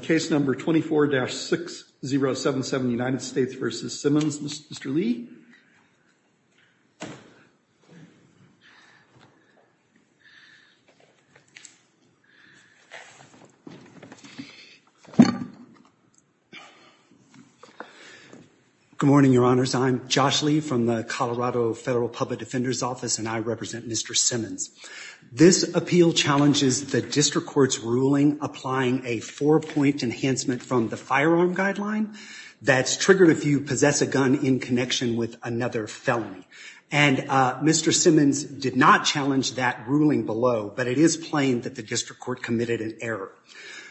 Case number 24-6077, United States v. Simmons. Mr. Lee. Good morning, Your Honors. I'm Josh Lee from the Colorado Federal Public Defender's Office, and I represent Mr. Simmons. This appeal challenges the district court's ruling applying a four-point enhancement from the firearm guideline that's triggered if you possess a gun in connection with another felony. And Mr. Simmons did not challenge that ruling below, but it is plain that the district court committed an error.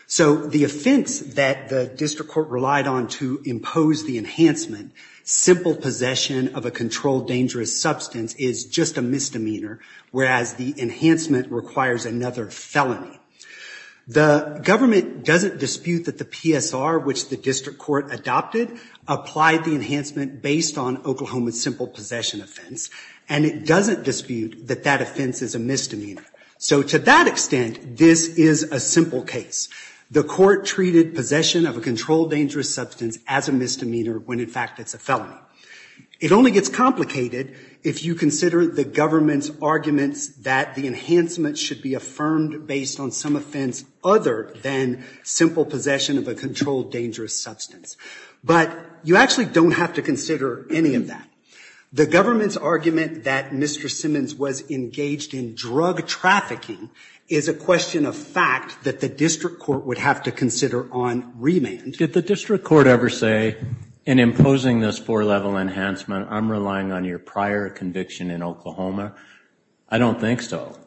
So the offense that the district court relied on to impose the enhancement, simple possession of a firearm, is a misdemeanor. The enhancement requires another felony. The government doesn't dispute that the PSR, which the district court adopted, applied the enhancement based on Oklahoma's simple possession offense, and it doesn't dispute that that offense is a misdemeanor. So to that extent, this is a simple case. The court treated possession of a controlled dangerous substance as a misdemeanor when, in fact, it's a felony. It only gets complicated if you consider the government's arguments that the enhancement should be affirmed based on some offense other than simple possession of a controlled dangerous substance. But you actually don't have to consider any of that. The government's argument that Mr. Simmons was engaged in drug trafficking is a question of fact that the district court would have to consider on remand. Did the district court ever say, in imposing this four-level enhancement, I'm relying on your prior conviction in Oklahoma? I don't think so.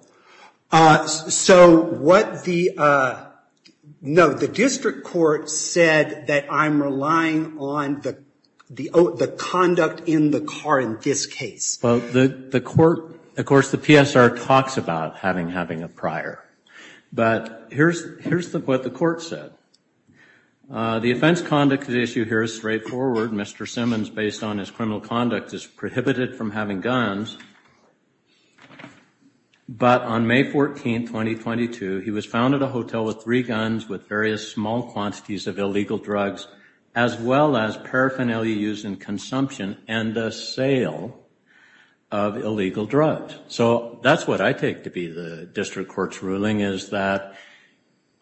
No, the district court said that I'm relying on the conduct in the car in this case. Of course, the PSR talks about having a prior, but here's what the court said. The offense conduct issue here is straightforward. Mr. Simmons, based on his criminal conduct, is prohibited from having guns. He's not allowed to have guns. But on May 14, 2022, he was found at a hotel with three guns with various small quantities of illegal drugs, as well as paraphernalia used in consumption and the sale of illegal drugs. So that's what I take to be the district court's ruling, is that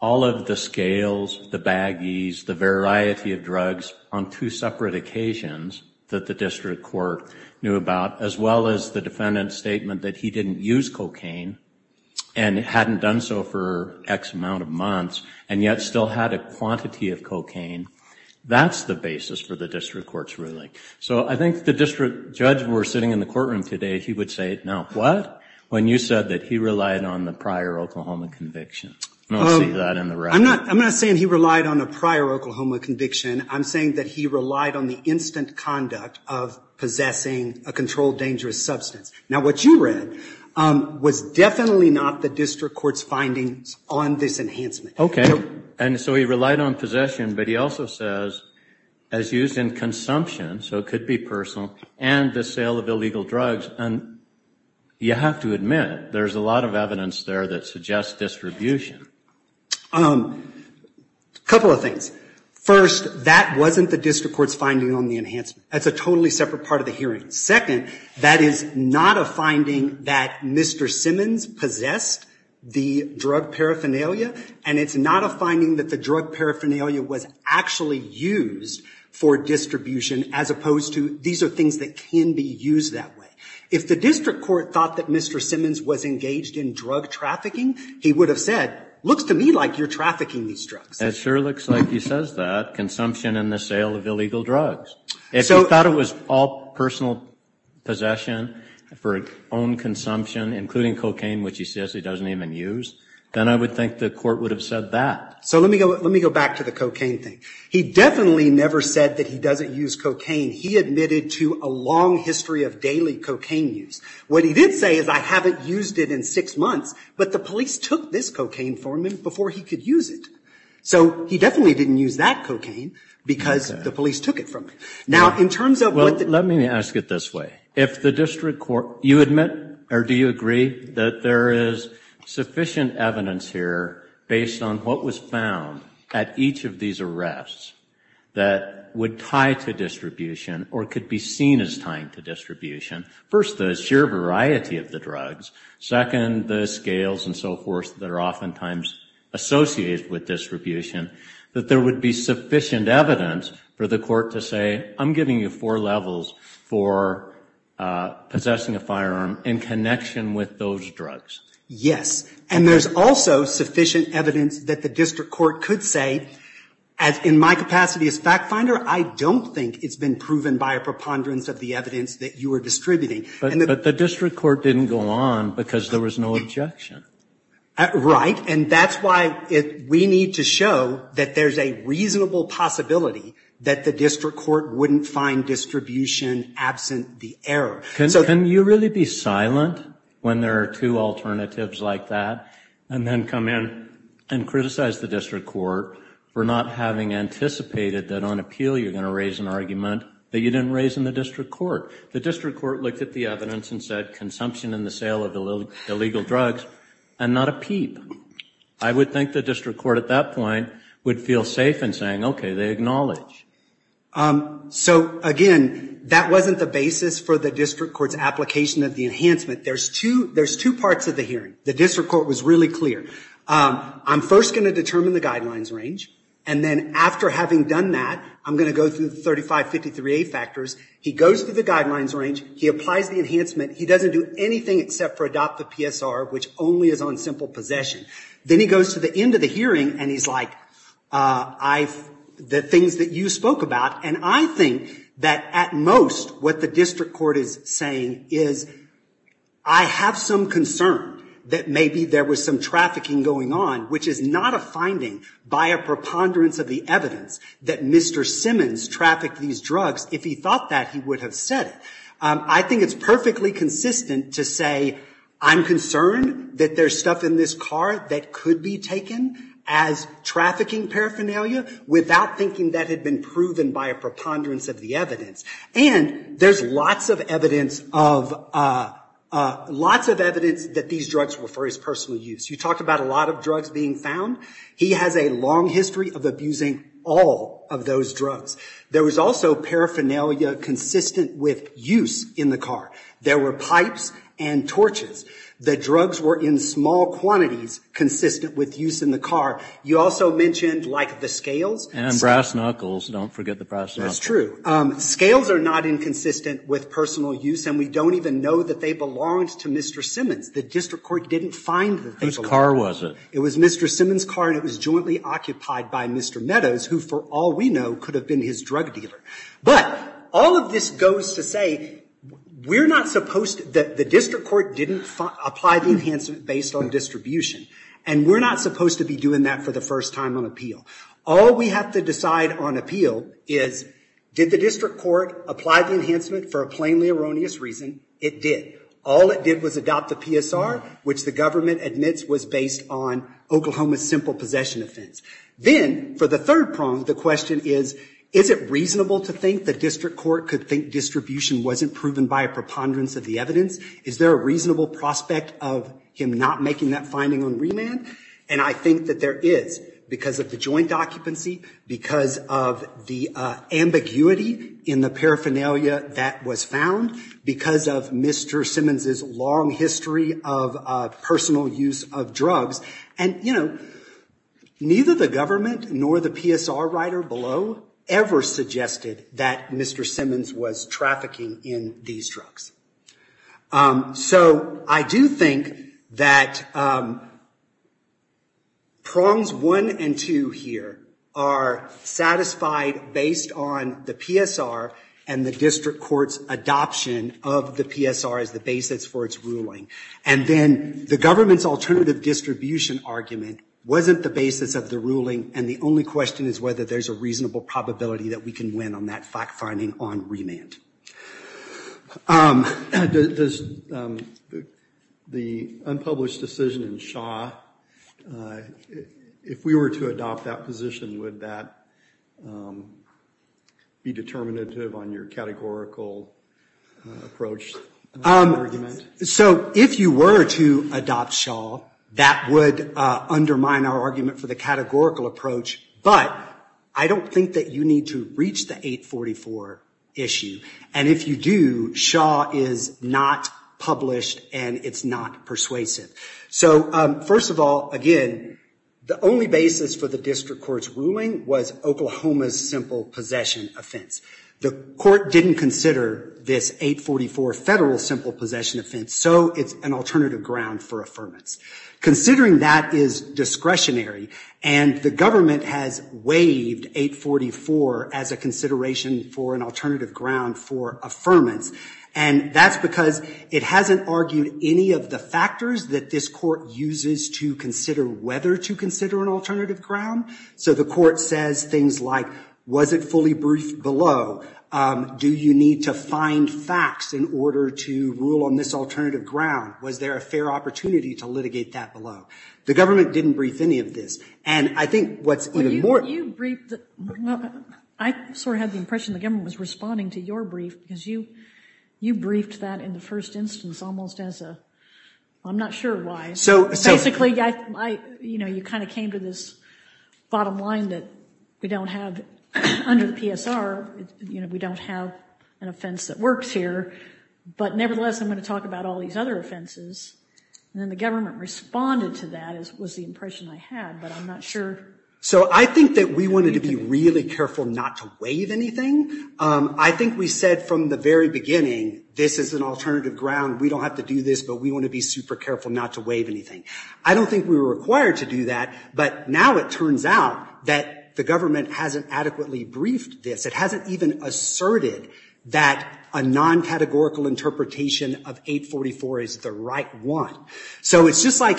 all of the scales, the baggies, the variety of drugs on two separate occasions that the district court knew about, as well as the defendant's statement that he didn't use cocaine, and hadn't done so for X amount of months, and yet still had a quantity of cocaine, that's the basis for the district court's ruling. So I think the district judge, when we're sitting in the courtroom today, he would say, no, what? When you said that he relied on the prior Oklahoma conviction. I don't see that in the record. I'm not saying he relied on a prior Oklahoma conviction. I'm saying that he relied on the instant conduct of possessing a gun, which was definitely not the district court's findings on this enhancement. Okay. And so he relied on possession, but he also says, as used in consumption, so it could be personal, and the sale of illegal drugs. And you have to admit, there's a lot of evidence there that suggests distribution. A couple of things. First, that wasn't the district court's finding on the enhancement. That's a totally separate part of the case. Mr. Simmons possessed the drug paraphernalia, and it's not a finding that the drug paraphernalia was actually used for distribution, as opposed to, these are things that can be used that way. If the district court thought that Mr. Simmons was engaged in drug trafficking, he would have said, looks to me like you're trafficking these drugs. It sure looks like he says that. Consumption and the sale of illegal drugs. If he thought it was all personal possession for his own consumption, including cocaine, which he says he doesn't even use, then I would think the court would have said that. So let me go back to the cocaine thing. He definitely never said that he doesn't use cocaine. He admitted to a long history of daily cocaine use. What he did say is, I haven't used it in six months, but the police took this cocaine from him before he could use it. So he definitely didn't use that cocaine, because the police took it from him. Now, in terms of what the... Let me ask it this way. You admit, or do you agree, that there is sufficient evidence here based on what was found at each of these arrests that would tie to distribution, or could be seen as tying to distribution? First, the sheer variety of the drugs. Second, the scales and so forth that are oftentimes associated with distribution. That there would be sufficient evidence for the court to say, I'm giving you four levels for possessing a firearm in connection with those drugs. Yes. And there's also sufficient evidence that the district court could say, in my capacity as fact finder, I don't think it's been proven by a preponderance of the evidence that you were distributing. But the district court didn't go on because there was no objection. Right. And that's why we need to show that there's a reasonable possibility that the district court wouldn't find distribution absent the error. Can you really be silent when there are two alternatives like that, and then come in and criticize the district court for not having anticipated that on appeal you're going to raise an argument that you didn't raise in the district court? The district court looked at the evidence and said consumption and the sale of illegal drugs, and not a peep. I would think the district court at that point would feel safe in saying, okay, they acknowledge. So, again, that wasn't the basis for the district court's application of the enhancement. There's two parts of the hearing. The district court was really clear. I'm first going to determine the guidelines range, and then after having done that, I'm going to go through the 3553A factors. He goes through the guidelines range. He applies the enhancement. He doesn't do anything except for adopt the PSR, which only is on simple possession. Then he goes to the end of the hearing, and he's like, the things that you spoke about. And I think that at most what the district court is saying is I have some concern that maybe there was some trafficking going on, which is not a finding by a preponderance of the evidence that Mr. Simmons trafficked these drugs. If he thought that, he would have said it. I think it's perfectly consistent to say I'm concerned that there's stuff in this car that could be taken as trafficking paraphernalia without thinking that had been proven by a preponderance of the evidence. And there's lots of evidence that these drugs were for his personal use. You talked about a lot of drugs being found. He has a long history of abusing all of those drugs. There was also paraphernalia consistent with use in the car. There were pipes and torches. The drugs were in small quantities consistent with use in the car. You also mentioned, like, the scales. And brass knuckles. Don't forget the brass knuckles. That's true. Scales are not inconsistent with personal use, and we don't even know that they belonged to Mr. Simmons. The district court didn't find the things that belonged to him. Whose car was it? It was Mr. Simmons' car, and it was jointly occupied by Mr. Meadows, who, for all we know, could have been his drug dealer. But all of this goes to say we're not supposed to – the district court didn't apply the enhancement based on distribution, and we're not supposed to be doing that for the first time on appeal. All we have to decide on appeal is did the district court apply the enhancement for a plainly erroneous reason? It did. All it did was adopt the PSR, which the government admits was based on Oklahoma's simple possession offense. Then, for the third prong, the question is, is it reasonable to think the district court could think distribution wasn't proven by a preponderance of the evidence? Is there a reasonable prospect of him not making that finding on remand? And I think that there is, because of the joint occupancy, because of the ambiguity in the paraphernalia that was found, because of Mr. Simmons' long history of personal use of drugs. And, you know, neither the government nor the PSR writer below ever suggested that Mr. Simmons was trafficking in these drugs. So I do think that prongs one and two here are satisfied based on the PSR and the district court's adoption of the PSR. It's the basis for its ruling. And then the government's alternative distribution argument wasn't the basis of the ruling. And the only question is whether there's a reasonable probability that we can win on that fact finding on remand. Does the unpublished decision in Shaw, if we were to adopt that position, would that be determinative on your categorical approach to the argument? So if you were to adopt Shaw, that would undermine our argument for the categorical approach. But I don't think that you need to reach the 844 issue. And if you do, Shaw is not published and it's not persuasive. So first of all, again, the only basis for the district court's ruling was Oklahoma's simple possession offense. The court didn't consider this 844 federal simple possession offense. So it's an alternative ground for affirmance. Considering that is discretionary, and the government has waived 844 as a consideration for an alternative ground for affirmance, and that's because it hasn't argued any of the factors that this court uses to consider whether to consider an alternative ground. So the court says things like, was it fully briefed below? Do you need to find facts in order to rule on this alternative ground? Was there a fair opportunity to litigate that below? The government didn't brief any of this. And I think what's even more... I sort of had the impression the government was responding to your brief because you briefed that in the first instance almost as a, I'm not sure why. Basically, you kind of came to this bottom line that we don't have under the PSR, we don't have an offense that works here. But nevertheless, I'm going to talk about all these other offenses. And then the government responded to that was the impression I had, but I'm not sure. So I think that we wanted to be really careful not to waive anything. I think we said from the very beginning, this is an alternative ground, we don't have to do this, but we want to be super careful not to waive anything. I don't think we were required to do that, but now it turns out that the government hasn't adequately briefed this. It hasn't even asserted that a non-categorical interpretation of 844 is the right one. So it's just like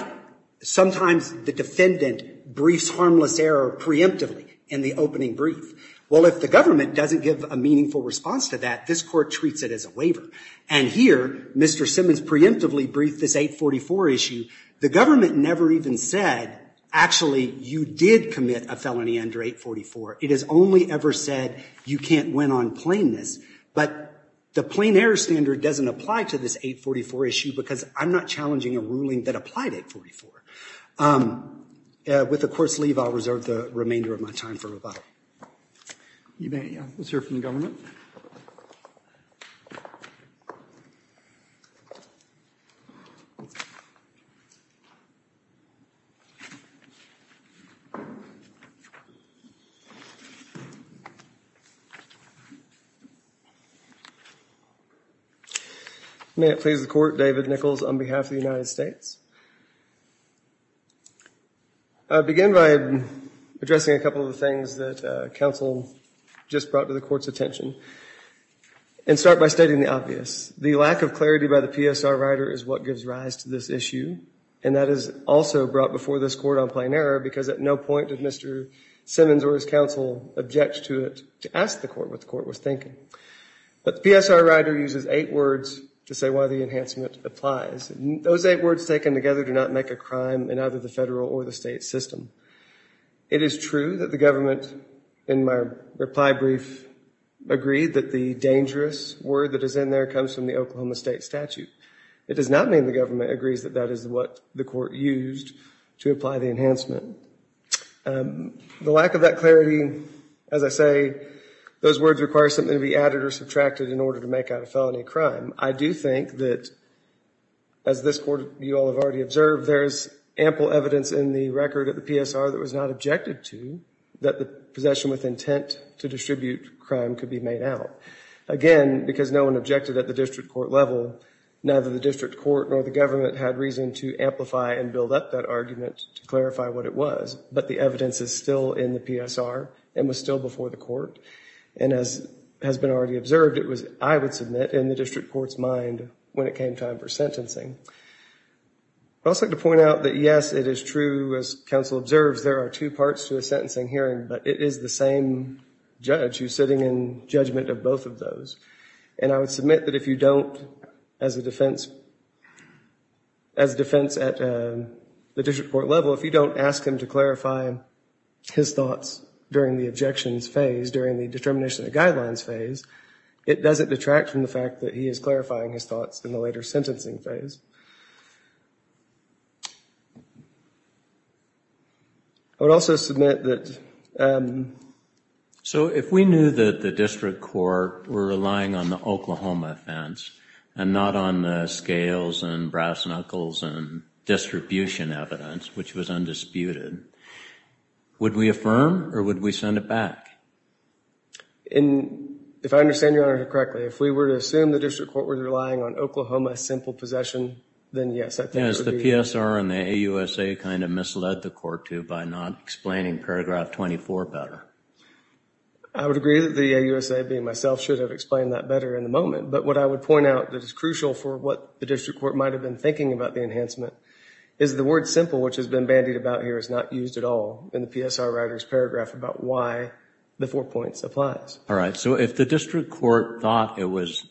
sometimes the defendant briefs harmless error preemptively in the opening brief. Well, if the government doesn't give a meaningful response to that, this Court treats it as a waiver. And here, Mr. Simmons preemptively briefed this 844 issue. The government never even said, actually, you did commit a felony under 844. It has only ever said, you can't win on plainness. But the plain error standard doesn't apply to this 844 issue because I'm not challenging a ruling that applied 844. With the Court's leave, I'll reserve the remainder of my time for rebuttal. Let's hear from the government. May it please the Court, David Nichols on behalf of the United States. I'll begin by addressing a couple of things that counsel just brought to the Court's attention. And start by stating the obvious. The lack of clarity by the PSR writer is what gives rise to this issue, and that is also brought before this Court on plain error because at no point did Mr. Simmons or his counsel object to it, to ask the Court what the Court was thinking. But the PSR writer uses eight words to say why the enhancement applies. Those eight words taken together do not make a crime in either the federal or the state system. It is true that the government, in my reply brief, agreed that the dangerous word that is in there comes from the federal government, and that is why it was used to apply the enhancement. The lack of that clarity, as I say, those words require something to be added or subtracted in order to make out a felony crime. I do think that, as this Court, you all have already observed, there is ample evidence in the record of the PSR that was not objected to, that the possession with intent to distribute crime could be made out. Again, because no one objected at the district court level, neither the district court nor the government had reason to amplify and build up that argument to clarify what it was. But the evidence is still in the PSR and was still before the Court. And as has been already observed, it was, I would submit, in the district court's mind when it came time for sentencing. I would also like to point out that, yes, it is true, as counsel observes, there are two parts to a sentencing hearing, but it is the same judge who is sitting in judgment of both of those. And I would submit that if you don't, as a defense, as a defense at the district court level, if you don't ask him to clarify his thoughts during the objections phase, during the determination of guidelines phase, it doesn't detract from the fact that he is clarifying his thoughts in the later sentencing phase. I would also submit that so if we knew that the district court were relying on the Oklahoma offense and not on the scales and brass knuckles and distribution evidence, which was undisputed, would we affirm or would we send it back? And if I understand Your Honor correctly, if we were to assume the district court were relying on Oklahoma simple possession, then yes, I think it would be... Has the PSR and the AUSA kind of misled the court, too, by not explaining paragraph 24 better? I would agree that the AUSA, being myself, should have explained that better in the moment. But what I would point out that is crucial for what the district court might have been thinking about the enhancement is the word simple, which has been bandied about here, is not used at all in the PSR writer's paragraph about why the four points applies. All right. So if the district court thought it was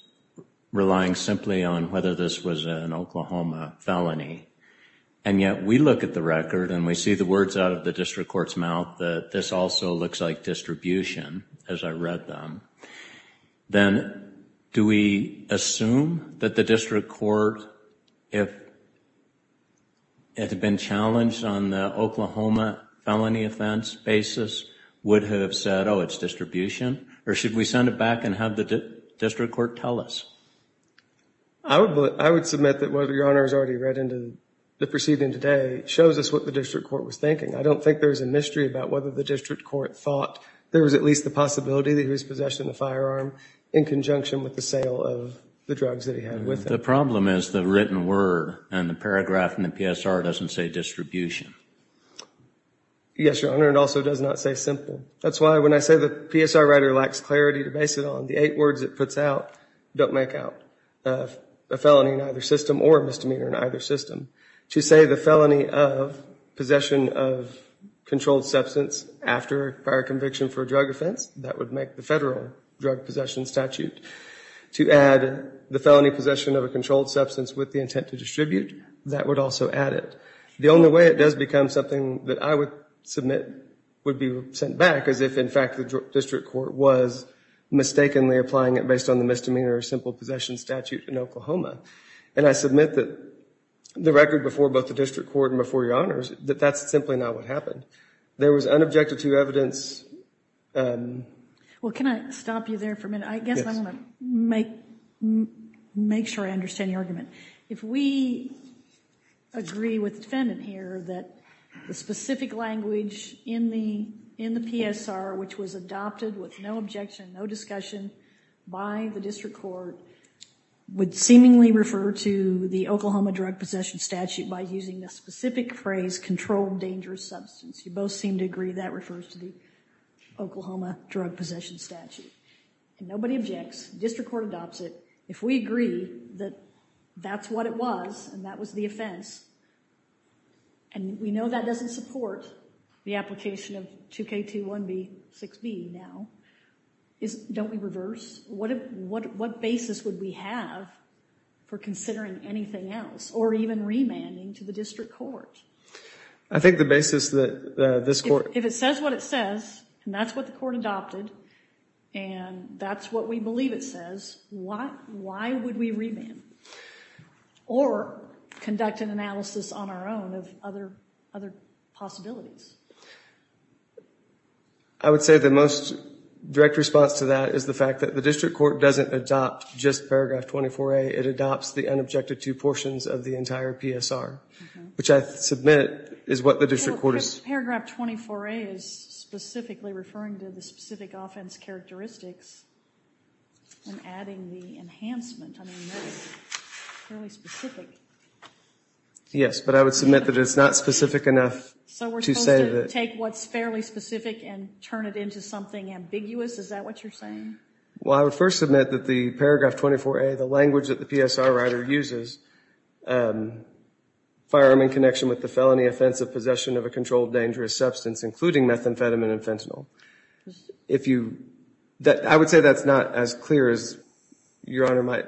relying simply on whether this was an Oklahoma felony, and yet we look at the record and we see the words out of the district court's mouth that this also looks like distribution, as I read them, then do we assume that the district court, if it had been challenged on the Oklahoma felony offense basis, would have said, oh, it's distribution? Or should we send it back and have the district court tell us? I would submit that what Your Honor has already read into the proceeding today shows us what the district court was thinking. I don't think there's a mystery about whether the district court thought there was at least the possibility that he was possessing a firearm in conjunction with the sale of the drugs that he had with him. The problem is the written word in the paragraph in the PSR doesn't say distribution. Yes, Your Honor. It also does not say simple. That's why when I say the PSR writer lacks clarity to base it on, the eight words it puts out don't make out a felony in either system or a misdemeanor in either system. To say the felony of possession of controlled substance after prior conviction for a drug offense, that would make the federal drug possession statute. To add the felony possession of a controlled substance with the intent to distribute, that would also add it. The only way it does become something that I would submit would be sent back as if, in fact, the district court was mistakenly applying it based on the misdemeanor or simple possession statute in Oklahoma. I submit that the record before both the district court and before Your Honors that that's simply not what happened. There was unobjective to evidence. Well, can I stop you there for a minute? I guess I want to make sure I understand your argument. If we agree with the defendant here that the specific language in the PSR which was adopted with no objection, no discussion by the district court would seemingly refer to the Oklahoma drug possession statute by using the specific phrase controlled dangerous substance. You both seem to agree that refers to the Oklahoma drug possession statute. Nobody objects. District court adopts it. If we agree that that's what it was and that was the offense and we know that doesn't support the application of 2K21B6B now, don't we reverse? What basis would we have for considering anything else or even remanding to the district court? I think the basis that this court... If it says what it says and that's what the court adopted and that's what we believe it says, why would we remand or conduct an analysis on our own of other possibilities? I would say the most direct response to that is the fact that the district court doesn't adopt just paragraph 24A. It adopts the unobjective to portions of the entire PSR, which I submit is what the district court... Paragraph 24A is specifically referring to the specific offense characteristics and adding the enhancement. I mean, that's fairly specific. Yes, but I would submit that it's not specific enough to say that... So we're supposed to take what's fairly specific and turn it into something ambiguous? Is that what you're saying? Well, I would first submit that the paragraph 24A, the language that the PSR writer uses, firearm in connection with the felony offense of possession of a controlled dangerous substance, including methamphetamine and fentanyl. If you... I would say that's not as clear as Your Honor might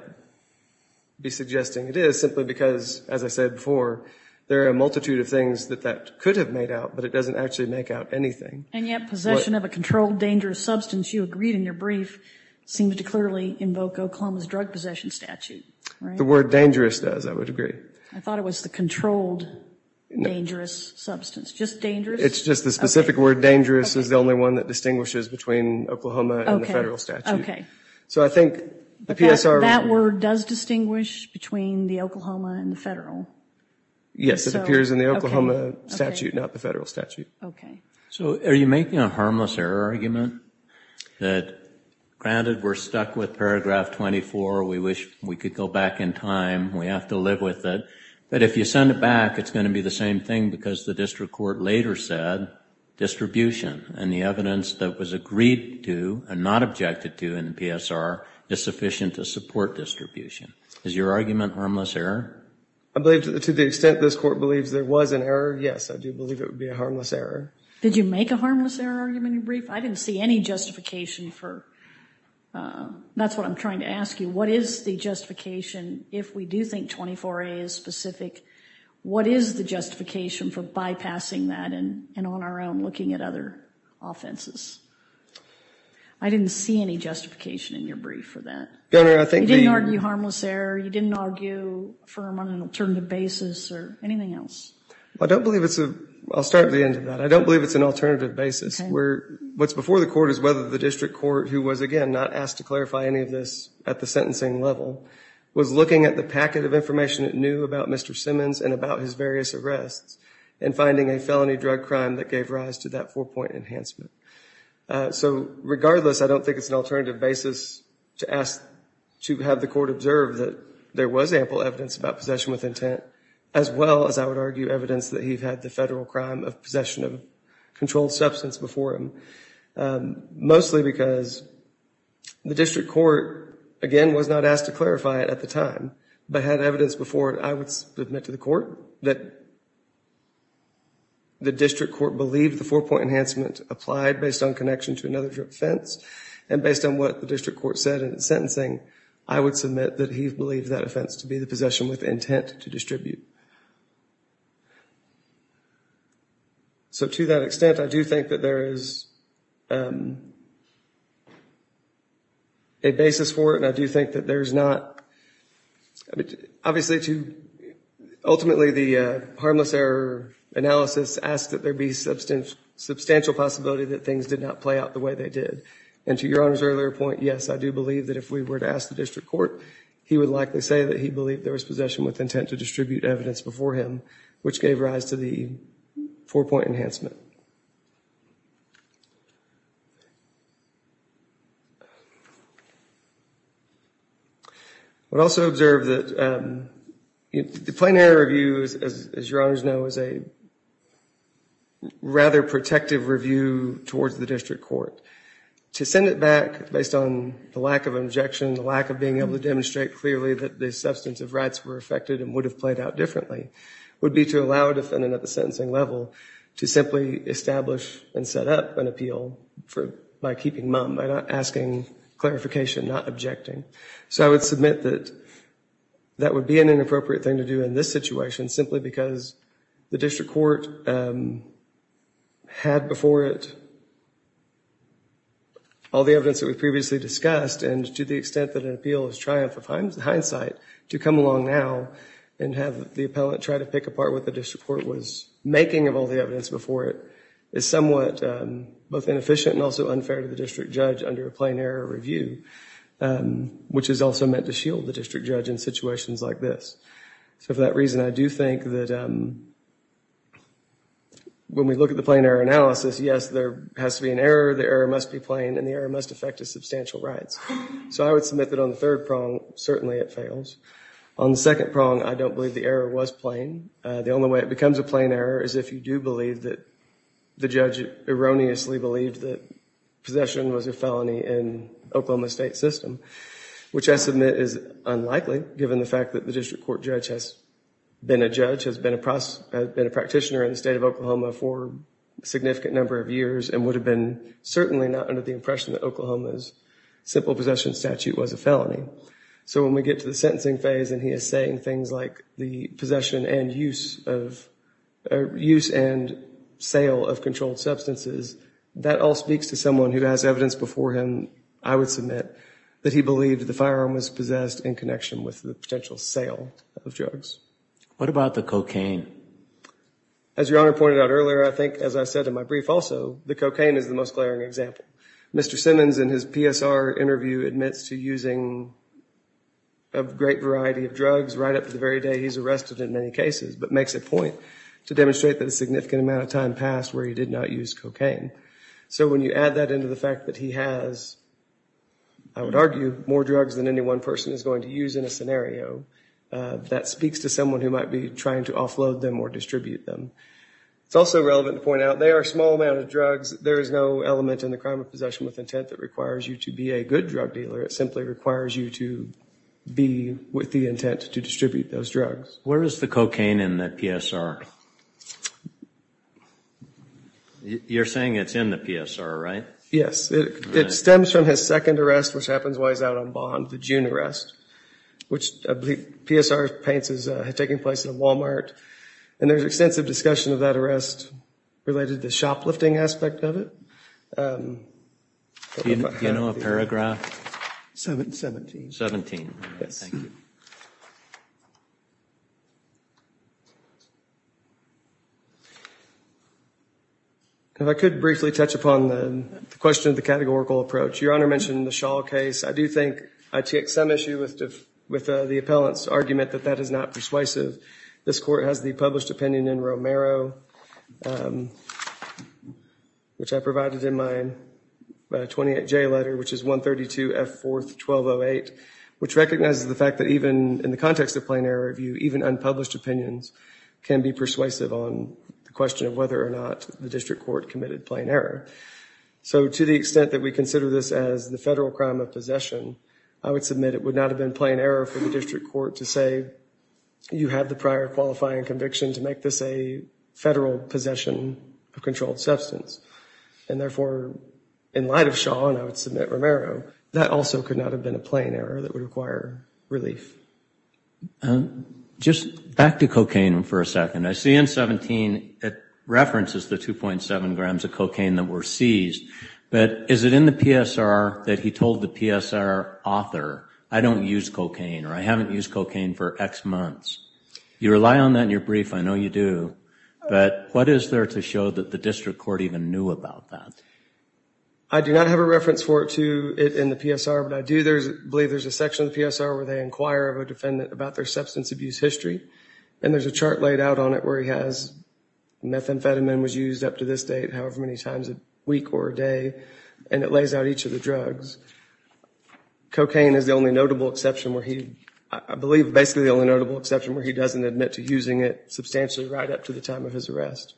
be suggesting it is, simply because, as I said before, there are a multitude of things that that could have made out, but it doesn't actually make out anything. And yet possession of a controlled dangerous substance, you agreed in your brief, seems to clearly invoke Oklahoma's drug possession statute. The word dangerous does, I would agree. I thought it was the controlled dangerous substance. Just dangerous? It's just the specific word dangerous is the only one that distinguishes between Oklahoma and the federal statute. Okay. So I think the PSR... That word does distinguish between the Oklahoma and the federal? Yes, it appears in the Oklahoma statute, not the federal statute. Okay. So are you making a harmless error argument that, granted, we're stuck with paragraph 24, we wish we could go back in time, we have to live with it, but if you send it back, it's going to be the same thing because the district court later said distribution and the evidence that was agreed to and not objected to in the PSR is sufficient to support distribution. Is your argument harmless error? I believe, to the extent this court believes there was an error, yes, I do believe it would be a harmless error. Did you make a harmless error argument in your brief? I didn't see any justification for... that's what I'm trying to ask you. What is the justification if we do think 24A is specific, what is the justification for bypassing that and on our own looking at other offenses? I didn't see any justification in your brief for that. Governor, I think the... You didn't argue harmless error, you didn't argue firm on an alternative basis or anything else. I'll start at the end of that. I don't believe it's an alternative basis. What's before the court is whether the district court, who was, again, not asked to clarify any of this at the sentencing level, was looking at the packet of information it knew about Mr. Simmons and about his various arrests and finding a felony drug crime that gave rise to that four-point enhancement. So, regardless, I don't think it's an alternative basis to ask to have the court observe that there was ample evidence about possession with intent as well as, I would argue, evidence that he had the federal crime of possession of controlled substance before him. Mostly because the district court, again, was not asked to clarify it at the time, but had evidence before it. I would submit to the court that the district court believed the four-point enhancement applied based on connection to another offense, and based on what the district court said in its sentencing, I would submit that he believed that offense to be the possession with intent to distribute. So, to that extent, I do think that there is a basis for it, and I do think that there's not... Obviously, ultimately, the harmless error analysis asked that there be substantial possibility that things did not play out the way they did. And to Your Honor's earlier point, yes, I do believe that if we were to ask the district court, he would likely say that he believed there was possession with intent to distribute evidence before him, which gave rise to the four-point enhancement. I would also observe that the plain error review, as Your Honors know, is a rather protective review towards the district court. To send it back, based on the lack of objection, the lack of being able to demonstrate clearly that the substance of rights were affected and would have played out differently, would be to allow a defendant at the sentencing level to simply establish and set up an appeal by keeping mum, by not asking clarification, not objecting. So I would submit that that would be an inappropriate thing to do in this situation, simply because the district court had before it all the evidence that was previously discussed, and to the extent that an appeal is triumph of hindsight, to come along now and have the appellant try to pick apart what the district court was making of all the evidence before it, is somewhat both inefficient and also unfair to the district judge under a plain error review, which is also meant to shield the district judge in situations like this. So for that reason, I do think that when we look at the plain error analysis, yes, there has to be an error, the error must be plain, and the error must affect his substantial rights. So I would submit that on the third prong, certainly it fails. On the second prong, I don't believe the error was plain. The only way it becomes a plain error is if you do believe that the judge erroneously believed that possession was a felony in Oklahoma's state system, which I submit is unlikely, given the fact that the district court judge has been a judge, has been a practitioner in the state of Oklahoma for a significant number of years and would have been certainly not under the impression that Oklahoma's simple possession statute was a felony. So when we get to the sentencing phase and he is saying things like the possession and use of, use and sale of controlled substances, that all speaks to someone who has evidence before him, I would submit, that he believed the firearm was possessed in connection with the potential sale of drugs. What about the cocaine? As Your Honor pointed out earlier, I think, as I said in my brief also, the cocaine is the most glaring example. Mr. Simmons in his PSR interview admits to using a great variety of drugs right up to the very day he's arrested in many cases, but makes it point to demonstrate that a significant amount of time passed where he did not use cocaine. So when you add that into the fact that he has, I would argue, more drugs than any one person is going to use in a scenario, that speaks to someone who might be trying to offload them or distribute them. It's also relevant to point out they are a small amount of drugs. There is no element in the crime of possession with intent that requires you to be a good drug dealer. It simply requires you to be with the intent to distribute those drugs. Where is the cocaine in that PSR? You're saying it's in the PSR, right? Yes. It stems from his second arrest, which happens while he's out on bond, the June arrest, which PSR paints as taking place at a Walmart. And there's extensive discussion of that arrest related to the shoplifting aspect of it. Do you know a paragraph? 17. If I could briefly touch upon the question of the categorical approach. Your Honor mentioned the Shaw case. I do think I took some issue with the appellant's argument that that is not persuasive. This court has the published opinion in Romero, which I provided in my 28J letter, which is 132F4-1208, which recognizes the fact that even in the context of plain error review, even unpublished opinions can be persuasive on the question of whether or not the district court committed plain error. So to the extent that we consider this as the federal crime of possession, I would submit it would not have been plain error for the district court to say, you have the prior qualifying conviction to make this a federal possession of controlled substance. And therefore, in light of Shaw, and I would submit Romero, that also could not have been a plain error that would require relief. Just back to cocaine for a second. I see in 17 it references the 2.7 grams of cocaine that were seized. But is it in the PSR that he told the PSR author, I don't use cocaine, or I haven't used cocaine for X months? You rely on that in your brief, I know you do. But what is there to show that the district court even knew about that? I do not have a reference for it in the PSR, but I do believe there's a section of the PSR where they inquire of a defendant about their substance abuse history. And there's a chart laid out on it where he has methamphetamine was used up to this date however many times a week or a day. And it lays out each of the drugs. Cocaine is the only notable exception where he, I believe basically the only notable exception where he doesn't admit to using it substantially right up to the time of his arrest.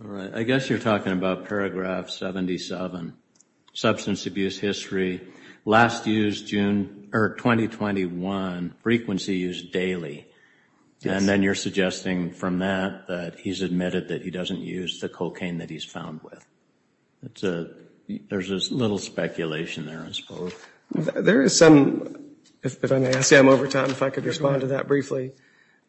All right. I guess you're talking about paragraph 77, substance abuse history. Last used June, or 2021, frequency used daily. And then you're suggesting from that that he's admitted that he doesn't use the cocaine that he's found with. There's a little speculation there, I suppose. There is some, if I may ask him over time, if I could respond to that briefly.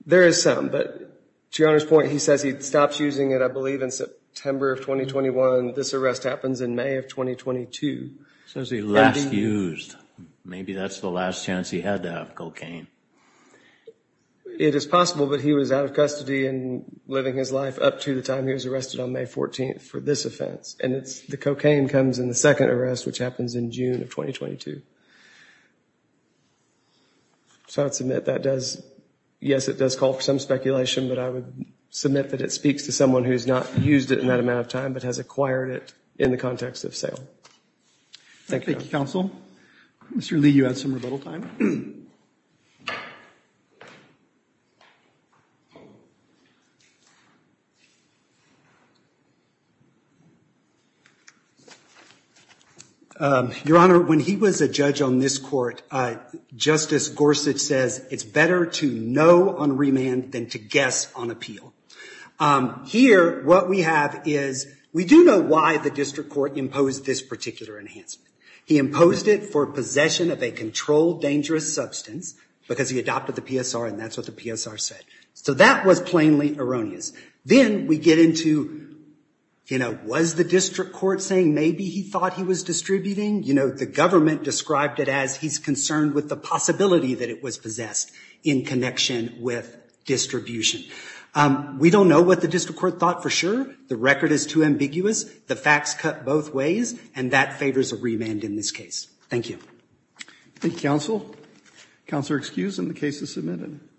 There is some, but to your Honor's point, he says he stops using it, I believe in September of 2021. This arrest happens in May of 2022. So is he last used? Maybe that's the last chance he had to have cocaine. It is possible, but he was out of custody and living his life up to the time he was arrested on May 14th for this offense. And it's the cocaine comes in the second arrest, which happens in June of 2022. So I would submit that does, yes, it does call for some speculation, but I would submit that it speaks to someone who's not used it in that amount of time, but has acquired it in the context of sale. Thank you, Counsel. Mr. Lee, you had some rebuttal time. Your Honor, when he was a judge on this court, Justice Gorsuch says it's better to know on remand than to guess on appeal. Here, what we have is we do know why the district court imposed this particular enhancement. He imposed it for possession of a controlled dangerous substance because he adopted the PSR and that's what the PSR said. So that was plainly erroneous. Then we get into, you know, was the district court saying maybe he thought he was distributing? You know, the government described it as he's concerned with the possibility that it was possessed in connection with distribution. We don't know what the district court thought for sure. The record is too ambiguous. The facts cut both ways. And that favors a remand in this case. Thank you. Thank you, Counsel. Counselor excused and the case is submitted.